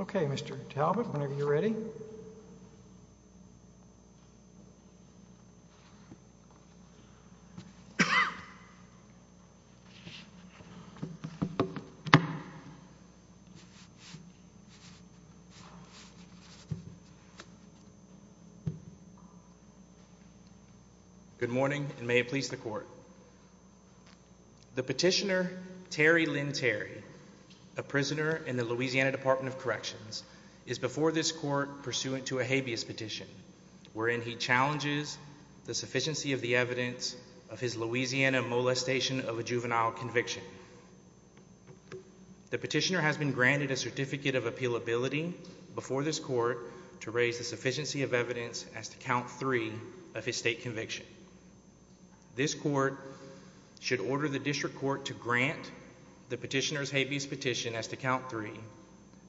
Okay, Mr. Talbot, whenever you're ready. Good morning and may it please the court. The petitioner, Terry Lynn Terry, a prisoner in the Louisiana Department of Corrections is before this court pursuant to a habeas petition, wherein he challenges the sufficiency of the evidence of his Louisiana molestation of a juvenile conviction. The petitioner has been granted a certificate of appealability before this court to raise the sufficiency of evidence as to count three of his state conviction. This court should order the district court to grant the petitioner's habeas petition as to count three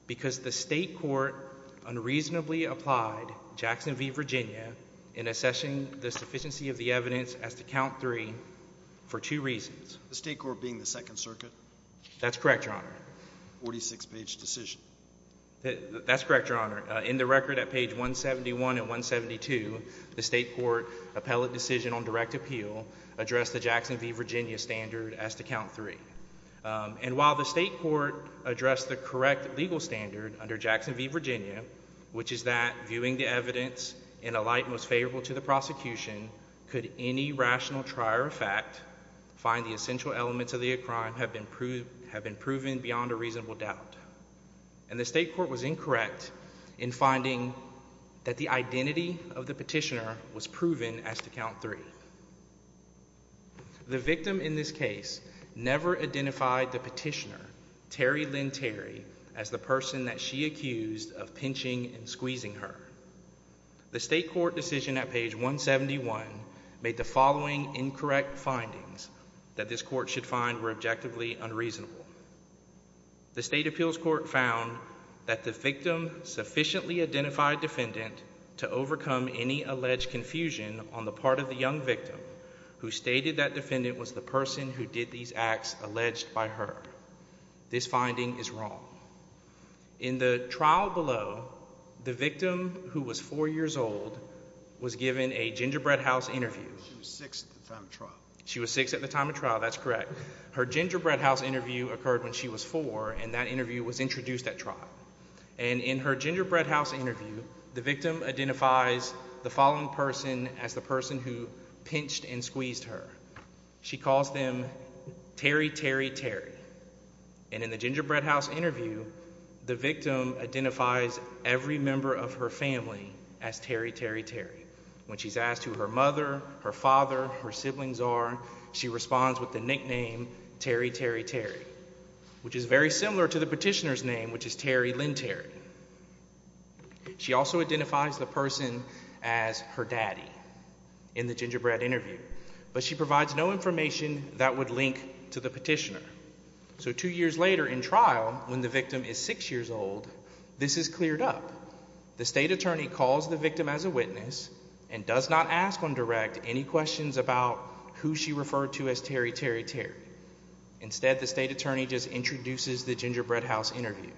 because the state court unreasonably applied Jackson v. Virginia in evidence as to count three for two reasons, the state court being the Second Circuit. That's correct. Your Honor. 46 page decision. That's correct. Your Honor. In the record at page 171 and 172, the state court appellate decision on direct appeal addressed the Jackson v. Virginia standard as to count three. And while the state court addressed the correct legal standard under Jackson v. Virginia, which is that viewing the evidence in a light most favorable to the prosecution, could any rational trier of fact find the essential elements of the crime have been proved have been proven beyond a reasonable doubt. And the state court was incorrect in finding that the identity of the petitioner was proven as to count three. The victim in this case never identified the petitioner, Terry Lynn Terry, as the person that she accused of pinching and squeezing her. The state court decision at page 171 made the following incorrect findings that this court should find were objectively unreasonable. The state appeals court found that the victim sufficiently identified defendant to overcome any alleged confusion on the part of the young victim who stated that defendant was the person who did these acts alleged by her. This finding is wrong. In the trial below, the victim who was four years old was given a gingerbread house interview. She was six at the time of trial. That's correct. Her gingerbread house interview occurred when she was four and that interview was introduced at trial. And in her gingerbread house interview, the victim identifies the following person as the person who pinched and squeezed her. She calls them Terry, Terry, Terry. And in the gingerbread house interview, the victim identifies every member of her family as Terry, Terry, Terry. When she's asked who her mother, her father, her siblings are, she responds with the nickname Terry, Terry, Terry, which is very similar to the petitioner's name, which is Terry Lynn Terry. She also identifies the person as her daddy in the gingerbread interview. But she provides no information that would link to the petitioner. So two years later in trial, when the victim is six years old, this is cleared up. The state attorney calls the victim as a witness and does not ask on direct any questions about who she referred to as Terry, Terry, Terry. Instead, the state attorney just introduces the gingerbread house interview.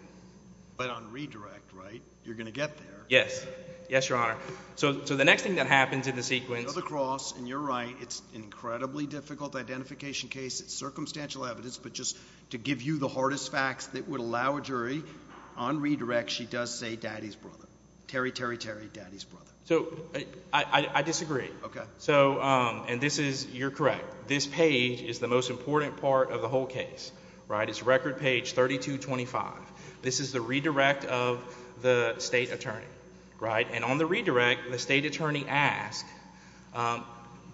But on redirect, right? You're going to get there. Yes. Yes, Your Honor. So the next thing that happens in the sequence. Go to the cross, and you're right, it's an incredibly difficult identification case. It's circumstantial evidence, but just to give you the hardest facts that would allow a jury, on redirect, she does say daddy's brother, Terry, Terry, Terry, daddy's brother. So I disagree. Okay. So, and this is, you're correct. This page is the most important part of the whole case, right? It's record page 3225. This is the redirect of the state attorney, right? And on the redirect, the state attorney asks,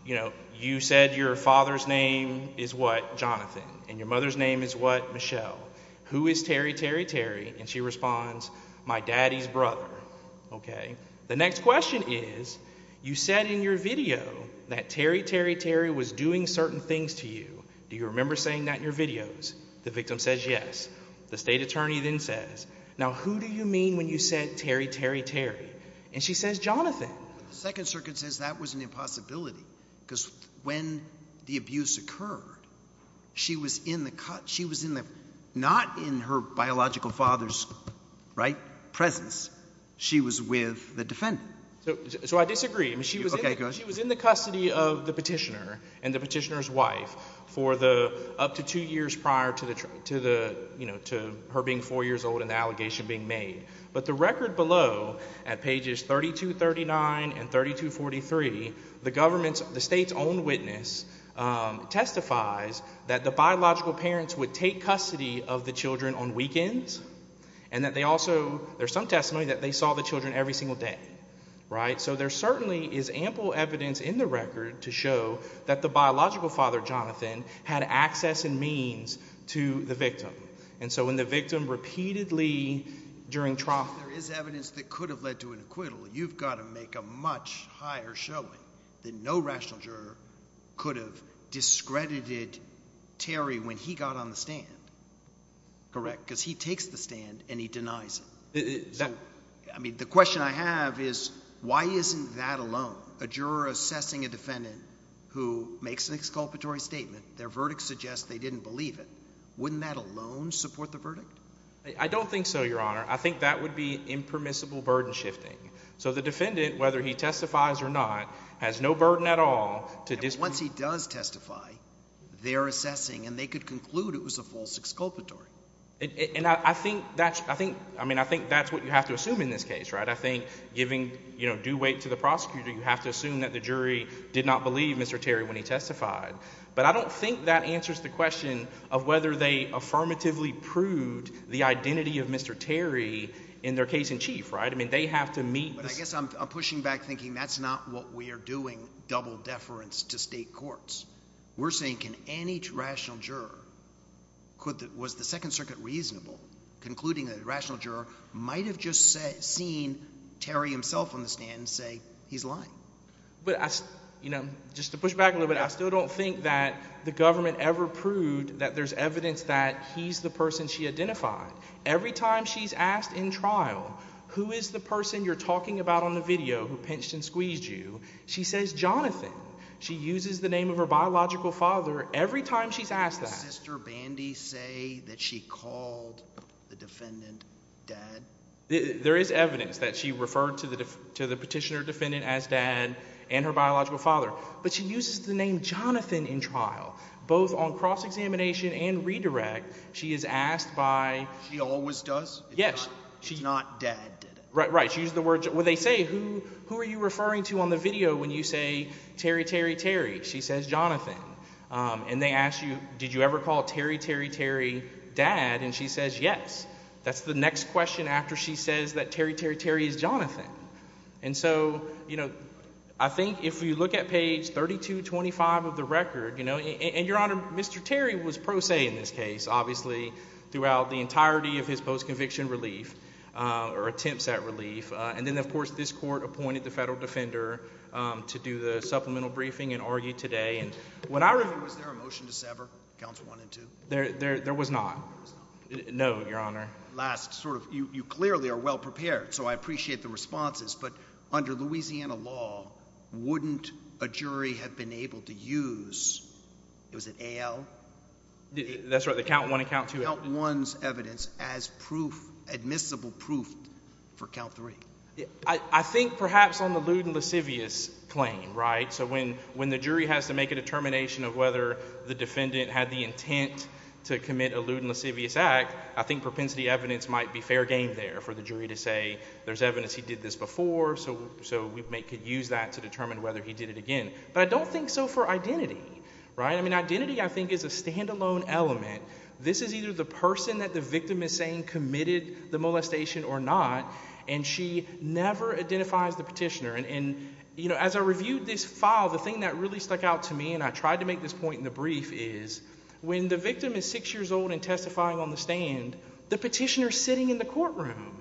you know, you said your father's name is what? Jonathan. And your mother's name is what? Michelle. Who is Terry, Terry, Terry? And she responds, my daddy's brother. Okay. The next question is, you said in your video that Terry, Terry, Terry was doing certain things to you. Do you remember saying that in your videos? The victim says yes. The state attorney then says, now who do you mean when you said Terry, Terry, Terry? And she says Jonathan. But the second circuit says that was an impossibility, because when the abuse occurred, she was in the, not in her biological father's, right, presence. She was with the defendant. So I disagree. Okay, go ahead. She was in the custody of the petitioner and the petitioner's wife for the, up to two years prior to her being four years old and the allegation being made. But the record below, at pages 3239 and 3243, the government's, the state's own witness testifies that the biological parents would take custody of the children on weekends and that they also, there's some testimony that they saw the children every single day, right? So there certainly is ample evidence in the record to show that the biological father, And so when the victim repeatedly, during trial. There is evidence that could have led to an acquittal. You've got to make a much higher showing that no rational juror could have discredited Terry when he got on the stand, correct? Because he takes the stand and he denies it. Exactly. I mean, the question I have is why isn't that alone? A juror assessing a defendant who makes an exculpatory statement, their verdict suggests they didn't believe it. Wouldn't that alone support the verdict? I don't think so, your honor. I think that would be impermissible burden shifting. So the defendant, whether he testifies or not, has no burden at all to this. Once he does testify, they're assessing and they could conclude it was a false exculpatory. And I think that's, I think, I mean, I think that's what you have to assume in this case, right? I think giving, you know, due weight to the prosecutor, you have to assume that the jury did not believe Mr. Terry when he testified. But I don't think that answers the question of whether they affirmatively proved the identity of Mr. Terry in their case in chief, right? I mean, they have to meet the... But I guess I'm pushing back thinking that's not what we are doing, double deference to state courts. We're saying, can any rational juror, was the Second Circuit reasonable, concluding that a rational juror might have just seen Terry himself on the stand and say, he's lying? But I, you know, just to push back a little bit, I still don't think that the government ever proved that there's evidence that he's the person she identified. Every time she's asked in trial, who is the person you're talking about on the video who pinched and squeezed you? She says, Jonathan. She uses the name of her biological father every time she's asked that. Did Sister Bandy say that she called the defendant dad? There is evidence that she referred to the petitioner defendant as dad and her biological father. But she uses the name Jonathan in trial, both on cross-examination and redirect. She is asked by... She always does? Yes. It's not dad, did it? Right, right. She used the word... Well, they say, who are you referring to on the video when you say, Terry, Terry, Terry? She says, Jonathan. And they ask you, did you ever call Terry, Terry, Terry dad? And she says, yes. That's the next question after she says that Terry, Terry, Terry is Jonathan. And so, I think if you look at page 3225 of the record, and Your Honor, Mr. Terry was pro se in this case, obviously, throughout the entirety of his post-conviction relief or attempts at relief. And then, of course, this court appointed the federal defender to do the supplemental briefing and argue today. Was there a motion to sever, counts one and two? There was not. No, Your Honor. Last, sort of, you clearly are well-prepared, so I appreciate the responses. But under Louisiana law, wouldn't a jury have been able to use, was it AL? That's right. The count one and count two. Count one's evidence as proof, admissible proof for count three. I think perhaps on the lewd and lascivious claim, right? So when the jury has to make a determination of whether the defendant had the intent to the evidence might be fair game there for the jury to say, there's evidence he did this before, so we could use that to determine whether he did it again. But I don't think so for identity, right? I mean, identity, I think, is a standalone element. This is either the person that the victim is saying committed the molestation or not, and she never identifies the petitioner. And as I reviewed this file, the thing that really stuck out to me, and I tried to make this point in the brief, is when the victim is six years old and testifying on the stand, the petitioner's sitting in the courtroom.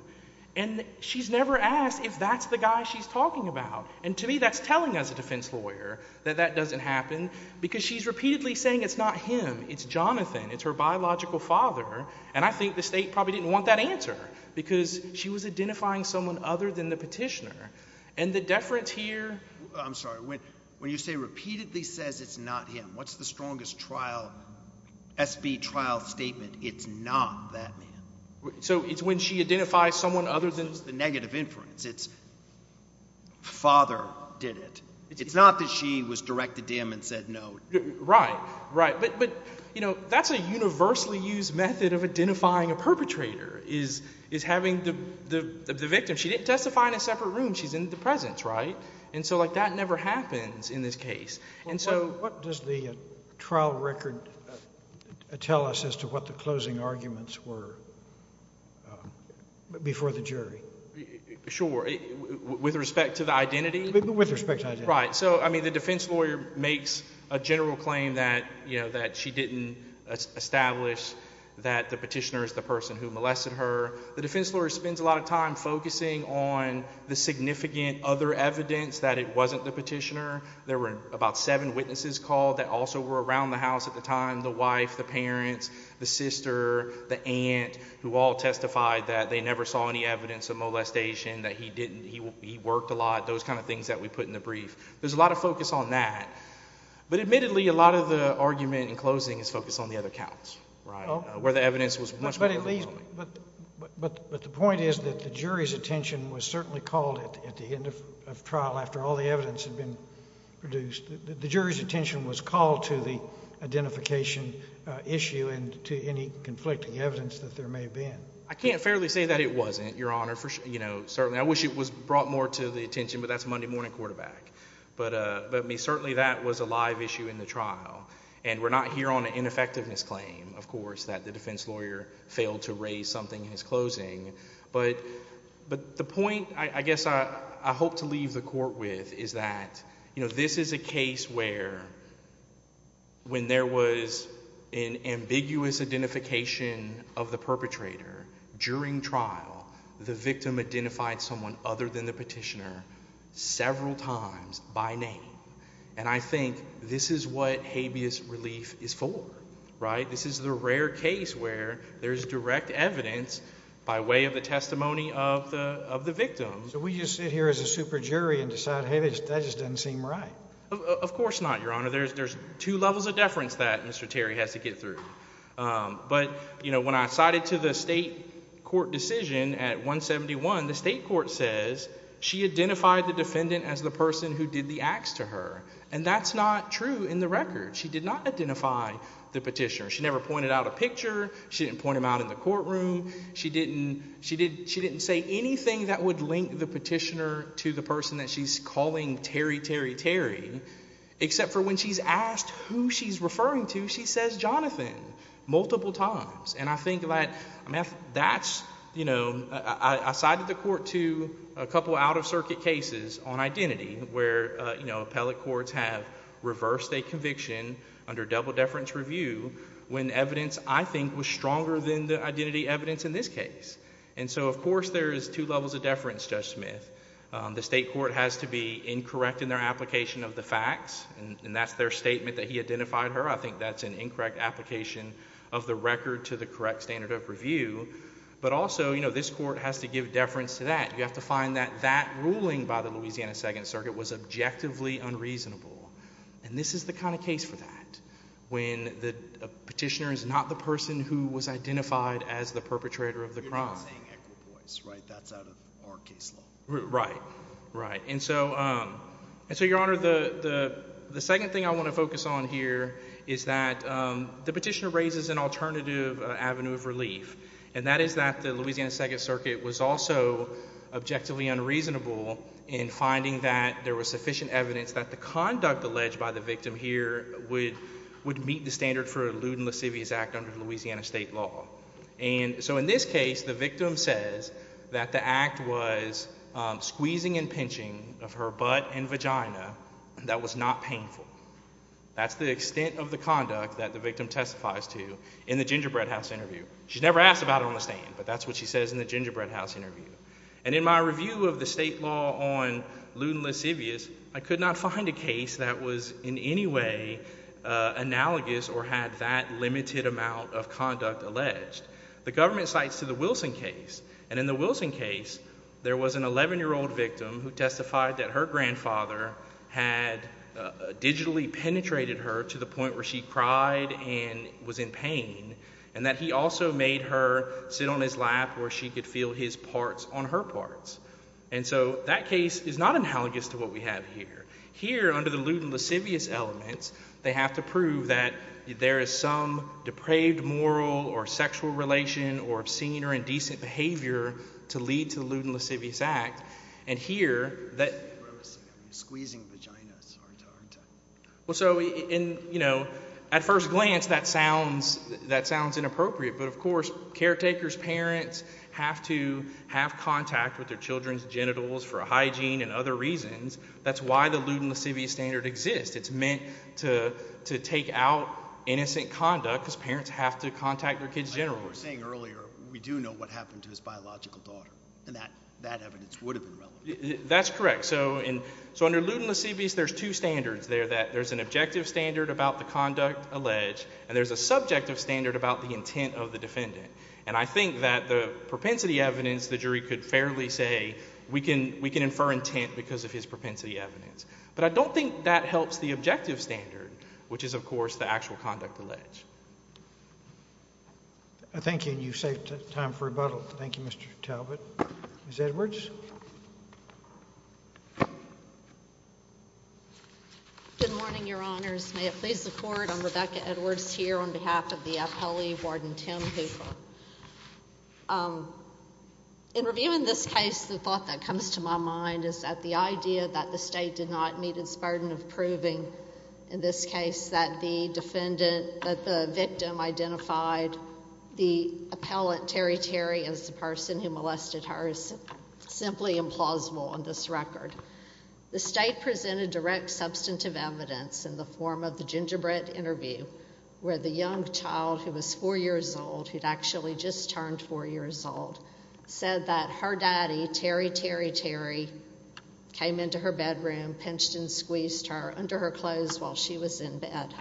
And she's never asked if that's the guy she's talking about. And to me, that's telling as a defense lawyer that that doesn't happen, because she's repeatedly saying it's not him, it's Jonathan, it's her biological father. And I think the State probably didn't want that answer, because she was identifying someone other than the petitioner. And the deference here— I'm sorry. When you say repeatedly says it's not him, what's the strongest trial, SB trial statement? It's not that man. So it's when she identifies someone other than— It's the negative inference. It's father did it. It's not that she was directed to him and said no. Right. Right. But, you know, that's a universally used method of identifying a perpetrator, is having the victim—she didn't testify in a separate room, she's in the presence, right? And so, like, that never happens in this case. And so— What does the trial record tell us as to what the closing arguments were before the jury? Sure. With respect to the identity? With respect to identity. Right. So, I mean, the defense lawyer makes a general claim that, you know, that she didn't establish that the petitioner is the person who molested her. The defense lawyer spends a lot of time focusing on the significant other evidence that it wasn't the petitioner. There were about seven witnesses called that also were around the house at the time. The wife, the parents, the sister, the aunt, who all testified that they never saw any evidence of molestation, that he didn't—he worked a lot, those kind of things that we put in the brief. There's a lot of focus on that. But admittedly, a lot of the argument in closing is focused on the other counts, right, where the evidence was much more— But at least—but the point is that the jury's attention was certainly called at the end of trial after all the evidence had been produced. The jury's attention was called to the identification issue and to any conflicting evidence that there may have been. I can't fairly say that it wasn't, Your Honor, you know, certainly. I wish it was brought more to the attention, but that's Monday morning quarterback. But certainly that was a live issue in the trial. And we're not here on an ineffectiveness claim, of course, that the defense lawyer failed to raise something in his closing. But the point, I guess, I hope to leave the court with is that, you know, this is a case where when there was an ambiguous identification of the perpetrator during trial, the victim identified someone other than the petitioner several times by name. And I think this is what habeas relief is for, right? This is the rare case where there's direct evidence by way of the testimony of the victim. So we just sit here as a super jury and decide, hey, that just doesn't seem right. Of course not, Your Honor. There's two levels of deference that Mr. Terry has to get through. But you know, when I cited to the state court decision at 171, the state court says she identified the defendant as the person who did the acts to her. And that's not true in the record. She did not identify the petitioner. She never pointed out a picture. She didn't point him out in the courtroom. She didn't say anything that would link the petitioner to the person that she's calling Terry, Terry, Terry, except for when she's asked who she's referring to, she says Jonathan multiple times. And I think that's, you know, I cited the court to a couple out-of-circuit cases on when evidence, I think, was stronger than the identity evidence in this case. And so, of course, there's two levels of deference, Judge Smith. The state court has to be incorrect in their application of the facts, and that's their statement that he identified her. I think that's an incorrect application of the record to the correct standard of review. But also, you know, this court has to give deference to that. You have to find that that ruling by the Louisiana Second Circuit was objectively unreasonable. And this is the kind of case for that, when the petitioner is not the person who was identified as the perpetrator of the crime. You're not saying Echol Boys, right? That's out of our case law. Right. Right. And so, Your Honor, the second thing I want to focus on here is that the petitioner raises an alternative avenue of relief, and that is that the Louisiana Second Circuit was also objectively unreasonable in finding that there was sufficient evidence that the conduct alleged by the victim here would meet the standard for a lewd and lascivious act under Louisiana state law. And so, in this case, the victim says that the act was squeezing and pinching of her butt and vagina that was not painful. That's the extent of the conduct that the victim testifies to in the Gingerbread House interview. She's never asked about it on the stand, but that's what she says in the Gingerbread House interview. And in my review of the state law on lewd and lascivious, I could not find a case that was in any way analogous or had that limited amount of conduct alleged. The government cites to the Wilson case, and in the Wilson case, there was an 11-year-old victim who testified that her grandfather had digitally penetrated her to the point where she cried and was in pain, and that he also made her sit on his lap where she could feel his parts on her parts. And so that case is not analogous to what we have here. Here under the lewd and lascivious elements, they have to prove that there is some depraved moral or sexual relation or obscene or indecent behavior to lead to the lewd and lascivious act. And here, that... Squeezing vaginas. Well, so, you know, at first glance, that sounds inappropriate, but of course, caretaker's parents have to have contact with their children's genitals for hygiene and other reasons. That's why the lewd and lascivious standard exists. It's meant to take out innocent conduct because parents have to contact their kids' genitals. Like I was saying earlier, we do know what happened to his biological daughter, and that evidence would have been relevant. That's correct. So under lewd and lascivious, there's two standards there, that there's an objective standard about the conduct alleged, and there's a subjective standard about the intent of the defendant. And I think that the propensity evidence, the jury could fairly say, we can infer intent because of his propensity evidence. But I don't think that helps the objective standard, which is, of course, the actual conduct alleged. Thank you, and you've saved time for rebuttal. Thank you, Mr. Talbot. Ms. Edwards. Good morning, Your Honors. May it please the Court, I'm Rebecca Edwards here on behalf of the appellee, Warden Tim Hooper. In reviewing this case, the thought that comes to my mind is that the idea that the state did not meet its burden of proving, in this case, that the victim identified the appellate Terry Terry as the person who molested her is simply implausible on this record. The state presented direct substantive evidence in the form of the Gingerbread interview, where the young child who was four years old, who'd actually just turned four years old, said that her daddy, Terry Terry Terry, came into her bedroom, pinched and squeezed her under her clothes while she was in bed.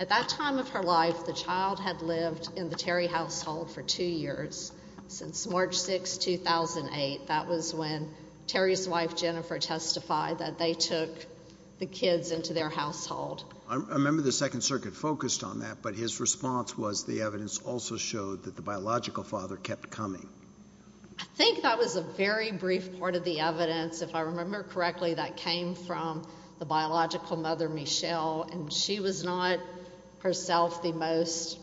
At that time of her life, the child had lived in the Terry household for two years. Since March 6, 2008, that was when Terry's wife, Jennifer, testified that they took the kids into their household. I remember the Second Circuit focused on that, but his response was the evidence also showed that the biological father kept coming. I think that was a very brief part of the evidence. If I remember correctly, that came from the biological mother, Michelle, and she was not herself the most,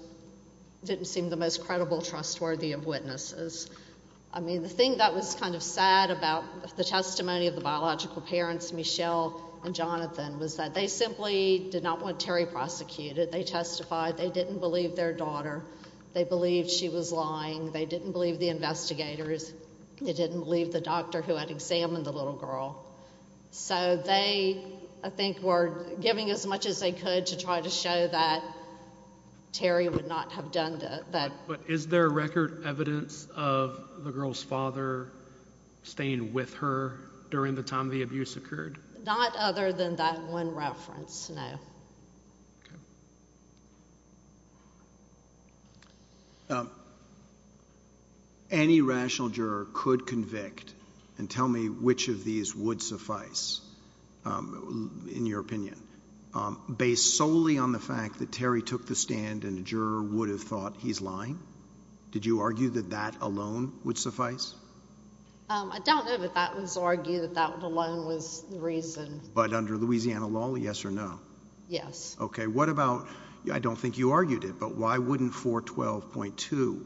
didn't seem the most credible, trustworthy of witnesses. I mean, the thing that was kind of sad about the testimony of the biological parents, Michelle and Jonathan, was that they simply did not want Terry prosecuted. They testified they didn't believe their daughter. They believed she was lying. They didn't believe the investigators. They didn't believe the doctor who had examined the little girl. So they, I think, were giving as much as they could to try to show that Terry would not have done that. Is there record evidence of the girl's father staying with her during the time the abuse occurred? Not other than that one reference, no. Okay. Any rational juror could convict, and tell me which of these would suffice, in your opinion, based solely on the fact that Terry took the stand and a juror would have thought he's lying? Did you argue that that alone would suffice? I don't know that that was argued, that that alone was the reason. But under Louisiana law, yes or no? Yes. Okay. What about, I don't think you argued it, but why wouldn't 412.2?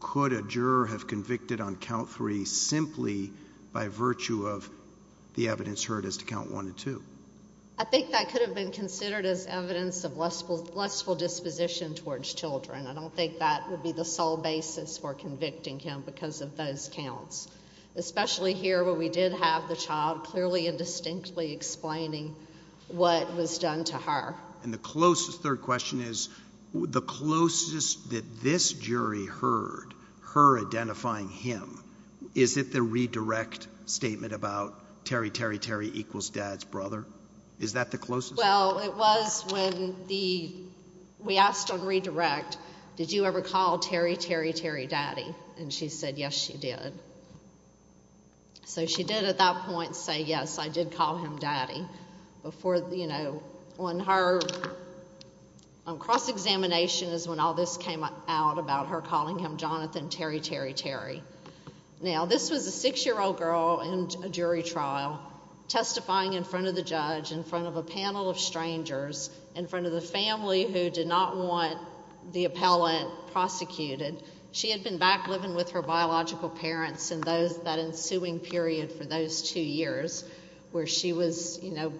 Could a juror have convicted on count three simply by virtue of the evidence heard as to count one and two? I think that could have been considered as evidence of lustful disposition towards children. I don't think that would be the sole basis for convicting him because of those counts. Especially here where we did have the child clearly and distinctly explaining what was done to her. And the closest, third question is, the closest that this jury heard her identifying him, is it the redirect statement about Terry, Terry, Terry equals dad's brother? Is that the closest? Well, it was when the, we asked on redirect, did you ever call Terry, Terry, Terry daddy? And she said, yes, she did. So she did at that point say, yes, I did call him daddy before, you know, on her cross-examination is when all this came out about her calling him Jonathan, Terry, Terry, Terry. Now this was a six-year-old girl in a jury trial testifying in front of the judge, in front of a panel of strangers, in front of the family who did not want the appellate prosecuted. She had been back living with her biological parents in those, that ensuing period for those two years where she was, you know,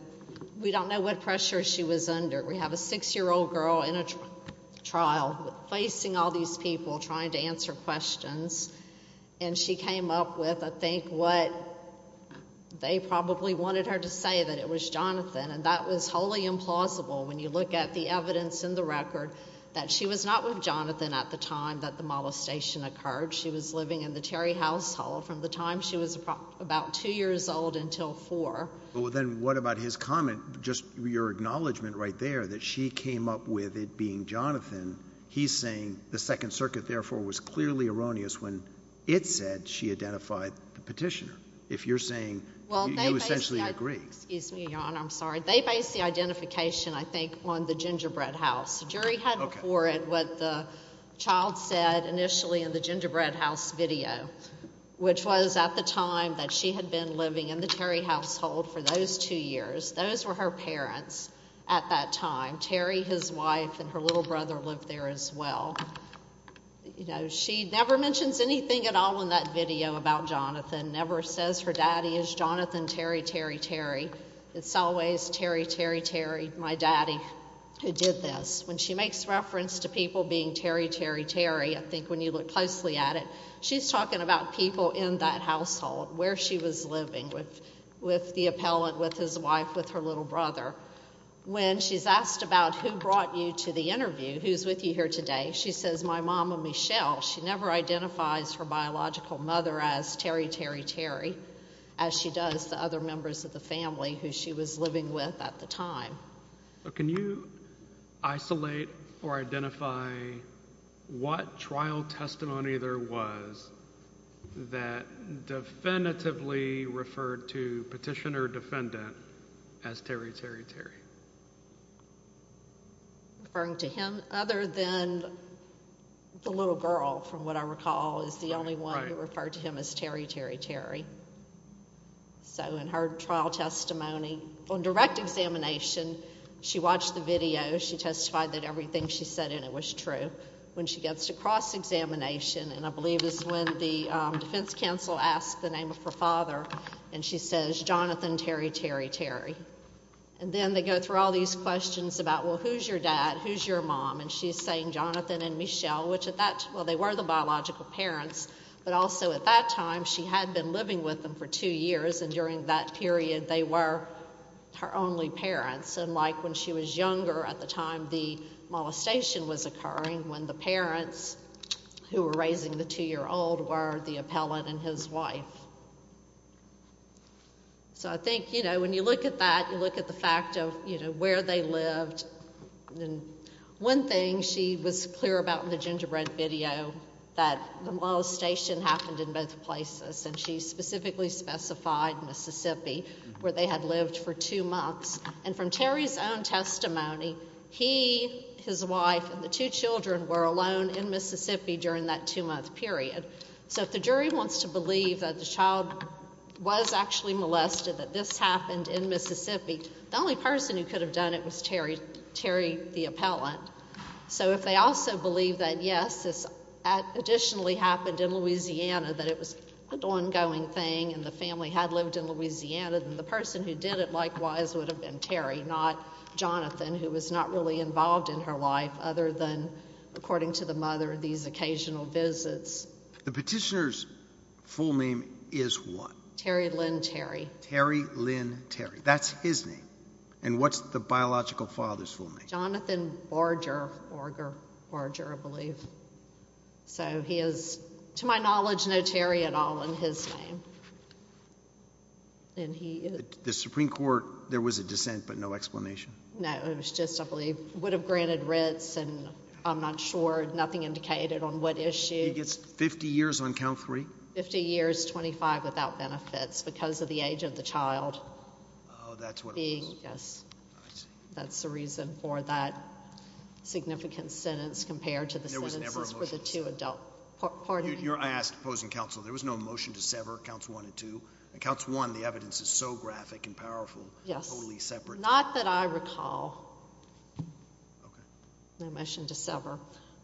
we don't know what pressure she was under. We have a six-year-old girl in a trial facing all these people trying to answer questions. And she came up with, I think, what they probably wanted her to say, that it was Jonathan. And that was wholly implausible when you look at the evidence in the record that she was not with Jonathan at the time that the molestation occurred. She was living in the Terry household from the time she was about two years old until four. Well, then what about his comment, just your acknowledgment right there that she came up with it being Jonathan? He's saying the Second Circuit, therefore, was clearly erroneous when it said she identified the petitioner. If you're saying you essentially agree. Excuse me, Your Honor. I'm sorry. They based the identification, I think, on the Gingerbread House. The jury had before it what the child said initially in the Gingerbread House video, which was at the time that she had been living in the Terry household for those two years. Those were her parents at that time. Terry, his wife, and her little brother lived there as well. She never mentions anything at all in that video about Jonathan, never says her daddy is Jonathan Terry, Terry, Terry. It's always Terry, Terry, Terry, my daddy, who did this. When she makes reference to people being Terry, Terry, Terry, I think when you look closely at it, she's talking about people in that household where she was living with the appellant, with his wife, with her little brother. When she's asked about who brought you to the interview, who's with you here today, she says my Mama Michelle. She never identifies her biological mother as Terry, Terry, Terry, as she does the other members of the family who she was living with at the time. Can you isolate or identify what trial testimony there was that definitively referred to Petitioner Defendant as Terry, Terry, Terry? Referring to him other than the little girl, from what I recall, is the only one who referred to him as Terry, Terry, Terry. So in her trial testimony, on direct examination, she watched the video, she testified that everything she said in it was true. When she gets to cross-examination, and I believe this is when the defense counsel asks the name of her father, and she says Jonathan, Terry, Terry, Terry. And then they go through all these questions about, well, who's your dad, who's your mom, and she's saying Jonathan and Michelle, which at that time, well, they were the biological parents, but also at that time, she had been living with them for two years, and during that period, they were her only parents, and like when she was younger, at the time the molestation was occurring, when the parents who were raising the two-year-old were the appellant and his wife. So I think, you know, when you look at that, you look at the fact of, you know, where they lived, and one thing she was clear about in the gingerbread video, that the molestation happened in both places, and she specifically specified Mississippi, where they had lived for two months. And from Terry's own testimony, he, his wife, and the two children were alone in Mississippi during that two-month period. So if the jury wants to believe that the child was actually molested, that this happened in Mississippi, the only person who could have done it was Terry, Terry the appellant. So if they also believe that, yes, this additionally happened in Louisiana, that it was an ongoing thing, and the family had lived in Louisiana, then the person who did it likewise would have been Terry, not Jonathan, who was not really involved in her life, other than, according to the mother, these occasional visits. The petitioner's full name is what? Terry Lynn Terry. Terry Lynn Terry. That's his name. And what's the biological father's full name? Jonathan Barger, Barger, I believe. So he is, to my knowledge, no Terry at all in his name. And he... The Supreme Court, there was a dissent, but no explanation? No, it was just, I believe, would have granted writs, and I'm not sure, nothing indicated on what issue. He gets 50 years on count three? 50 years, 25 without benefits, because of the age of the child. Oh, that's what it was. Yes. I see. That's the reason for that significant sentence, compared to the sentences for the two adult... There was never a motion to sever. Pardon me? I asked opposing counsel, there was no motion to sever, counts one and two. Counts one, the evidence is so graphic and powerful, totally separate. Yes. Not that I recall. Okay. No motion to sever.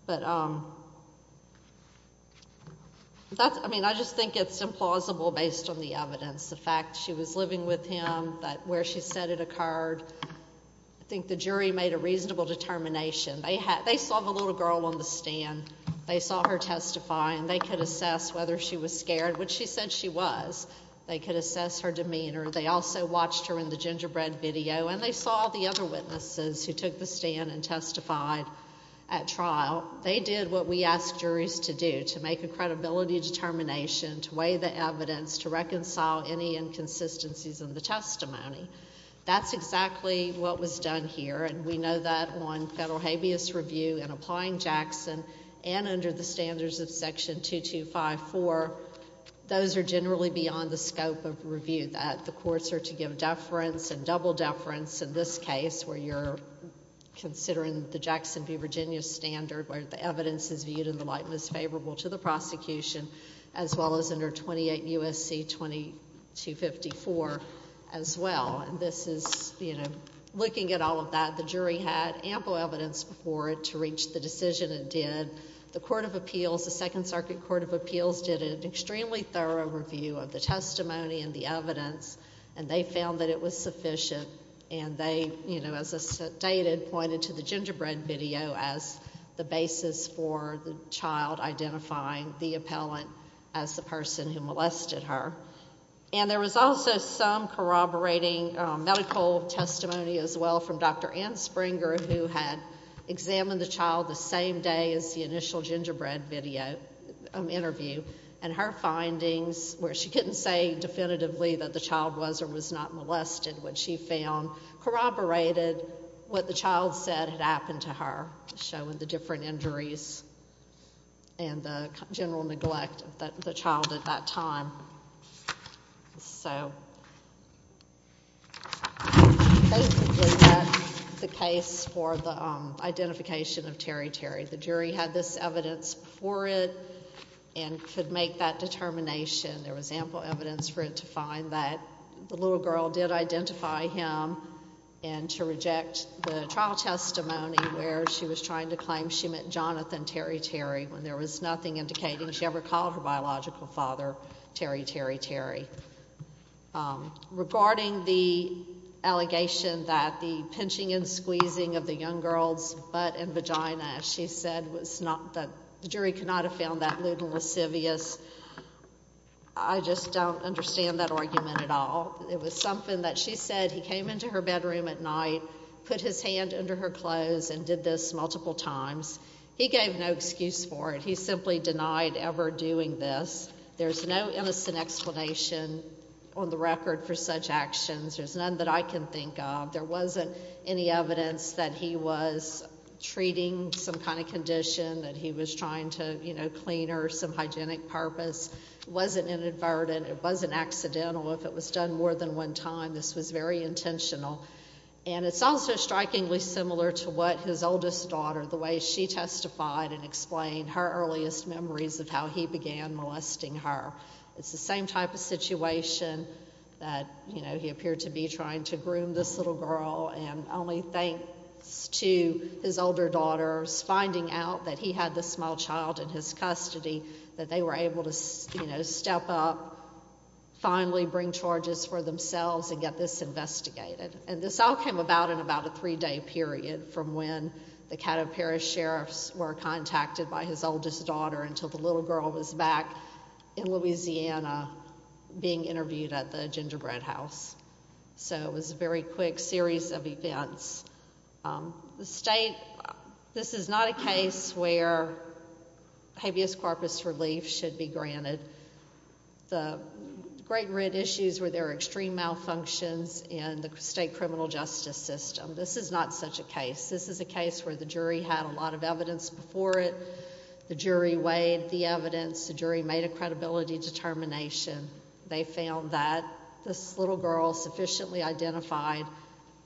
But that's, I mean, I just think it's implausible based on the evidence, the fact she was living with him, that where she said it occurred, I think the jury made a reasonable determination. They saw the little girl on the stand, they saw her testify, and they could assess whether she was scared, which she said she was. They could assess her demeanor. They also watched her in the gingerbread video, and they saw the other witnesses who took the stand and testified at trial. They did what we ask juries to do, to make a credibility determination, to weigh the evidence, to reconcile any inconsistencies in the testimony. That's exactly what was done here, and we know that on federal habeas review and applying Jackson and under the standards of Section 2254, those are generally beyond the scope of review. The courts are to give deference and double deference in this case, where you're considering the Jackson v. Virginia standard, where the evidence is viewed in the light most favorable to the prosecution, as well as under 28 U.S.C. 2254 as well. This is, you know, looking at all of that, the jury had ample evidence before it to reach the decision it did. The Court of Appeals, the Second Circuit Court of Appeals, did an extremely thorough review of the testimony and the evidence, and they found that it was sufficient, and they, you know, as I stated, pointed to the gingerbread video as the basis for the child identifying the appellant as the person who molested her. And there was also some corroborating medical testimony as well from Dr. Ann Springer, who had examined the child the same day as the initial gingerbread video interview, and her testimony, she couldn't say definitively that the child was or was not molested when she found corroborated what the child said had happened to her, showing the different injuries and the general neglect of the child at that time. So basically, that's the case for the identification of Terry Terry. The jury had this evidence before it and could make that determination. There was ample evidence for it to find that the little girl did identify him, and to reject the trial testimony where she was trying to claim she meant Jonathan Terry Terry when there was nothing indicating she ever called her biological father Terry Terry Terry. Regarding the allegation that the pinching and squeezing of the young girl's butt and I just don't understand that argument at all. It was something that she said he came into her bedroom at night, put his hand under her clothes and did this multiple times. He gave no excuse for it. He simply denied ever doing this. There's no innocent explanation on the record for such actions. There's none that I can think of. There wasn't any evidence that he was treating some kind of condition that he was trying to, you know, clean or some hygienic purpose. It wasn't inadvertent. It wasn't accidental. If it was done more than one time, this was very intentional. And it's also strikingly similar to what his oldest daughter, the way she testified and explained her earliest memories of how he began molesting her. It's the same type of situation that, you know, he appeared to be trying to groom this little girl and only thanks to his older daughter's finding out that he had this small child in his custody that they were able to, you know, step up, finally bring charges for themselves and get this investigated. And this all came about in about a three-day period from when the Caddo Parish sheriffs were contacted by his oldest daughter until the little girl was back in Louisiana being interviewed at the Gingerbread House. So it was a very quick series of events. The state, this is not a case where habeas corpus relief should be granted. The great red issues were there are extreme malfunctions in the state criminal justice system. This is not such a case. This is a case where the jury had a lot of evidence before it. The jury weighed the evidence. The jury made a credibility determination. They found that this little girl sufficiently identified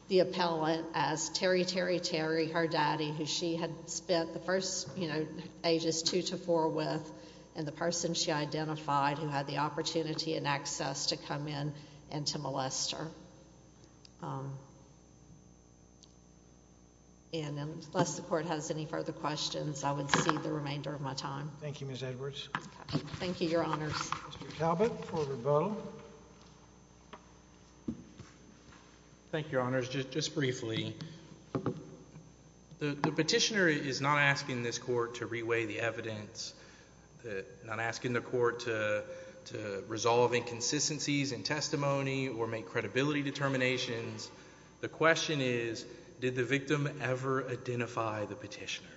the appellant as Terry, Terry, Terry, her daddy, who she had spent the first, you know, ages two to four with and the person she identified who had the opportunity and access to come in and to molest her. And unless the court has any further questions, I would cede the remainder of my time. Thank you, Ms. Edwards. Thank you, Your Honors. Mr. Talbot for rebuttal. Thank you, Your Honors. Just briefly, the petitioner is not asking this court to reweigh the evidence, not asking the court to resolve inconsistencies in testimony or make credibility determinations. The question is, did the victim ever identify the petitioner?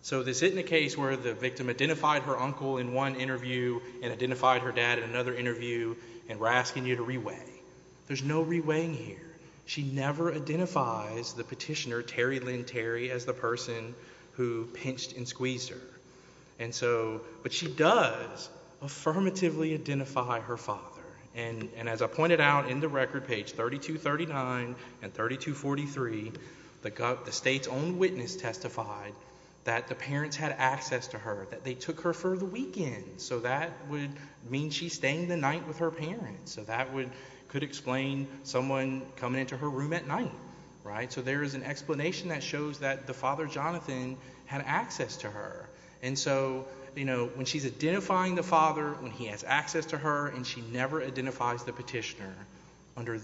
So this isn't a case where the victim identified her uncle in one interview and identified her dad in another interview and we're asking you to reweigh. There's no reweighing here. She never identifies the petitioner, Terry Lynn Terry, as the person who pinched and squeezed her. And so, but she does affirmatively identify her father. And as I pointed out in the record, page 3239 and 3243, the state's own witness testified that the parents had access to her, that they took her for the weekend. So that would mean she's staying the night with her parents. So that would, could explain someone coming into her room at night, right? So there is an explanation that shows that the father, Jonathan, had access to her. And so, you know, when she's identifying the father, when he has access to her and she never identifies the petitioner, under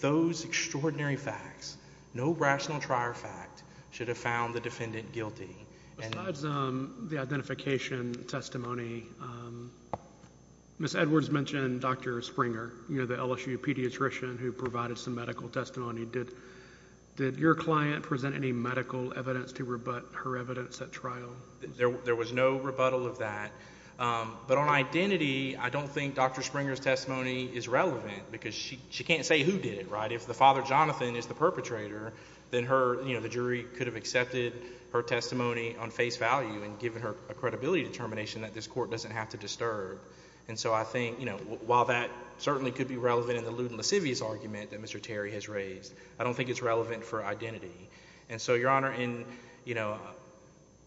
those extraordinary facts, no rational trier fact should have found the defendant guilty. Besides the identification testimony, Ms. Edwards mentioned Dr. Springer, you know, the LSU pediatrician who provided some medical testimony. Did your client present any medical evidence to rebut her evidence at trial? There was no rebuttal of that. But on identity, I don't think Dr. Springer's testimony is relevant because she can't say who did it, right? If the father, Jonathan, is the perpetrator, then her, you know, the jury could have accepted her testimony on face value and given her a credibility determination that this court doesn't have to disturb. And so I think, you know, while that certainly could be relevant in the lewd and lascivious argument that Mr. Terry has raised, I don't think it's relevant for identity. And so, Your Honor, in, you know,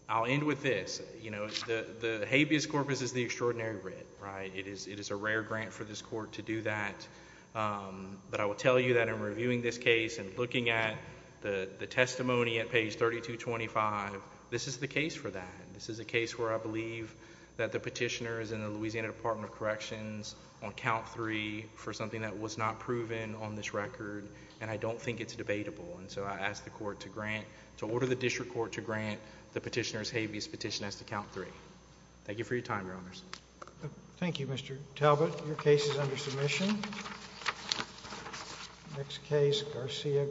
I'll end with this. You know, the habeas corpus is the extraordinary writ, right? It is a rare grant for this court to do that. But I will tell you that in reviewing this case and looking at the testimony at page 3225, this is the case for that. This is a case where I believe that the petitioner is in the Louisiana Department of Corrections on count three for something that was not proven on this record, and I don't think it's debatable. And so I ask the court to grant, to order the district court to grant the petitioner's habeas petition as to count three. Thank you for your time, Your Honors. Thank you, Mr. Talbot. Your case is under submission. Next case, Garcia-Garcia.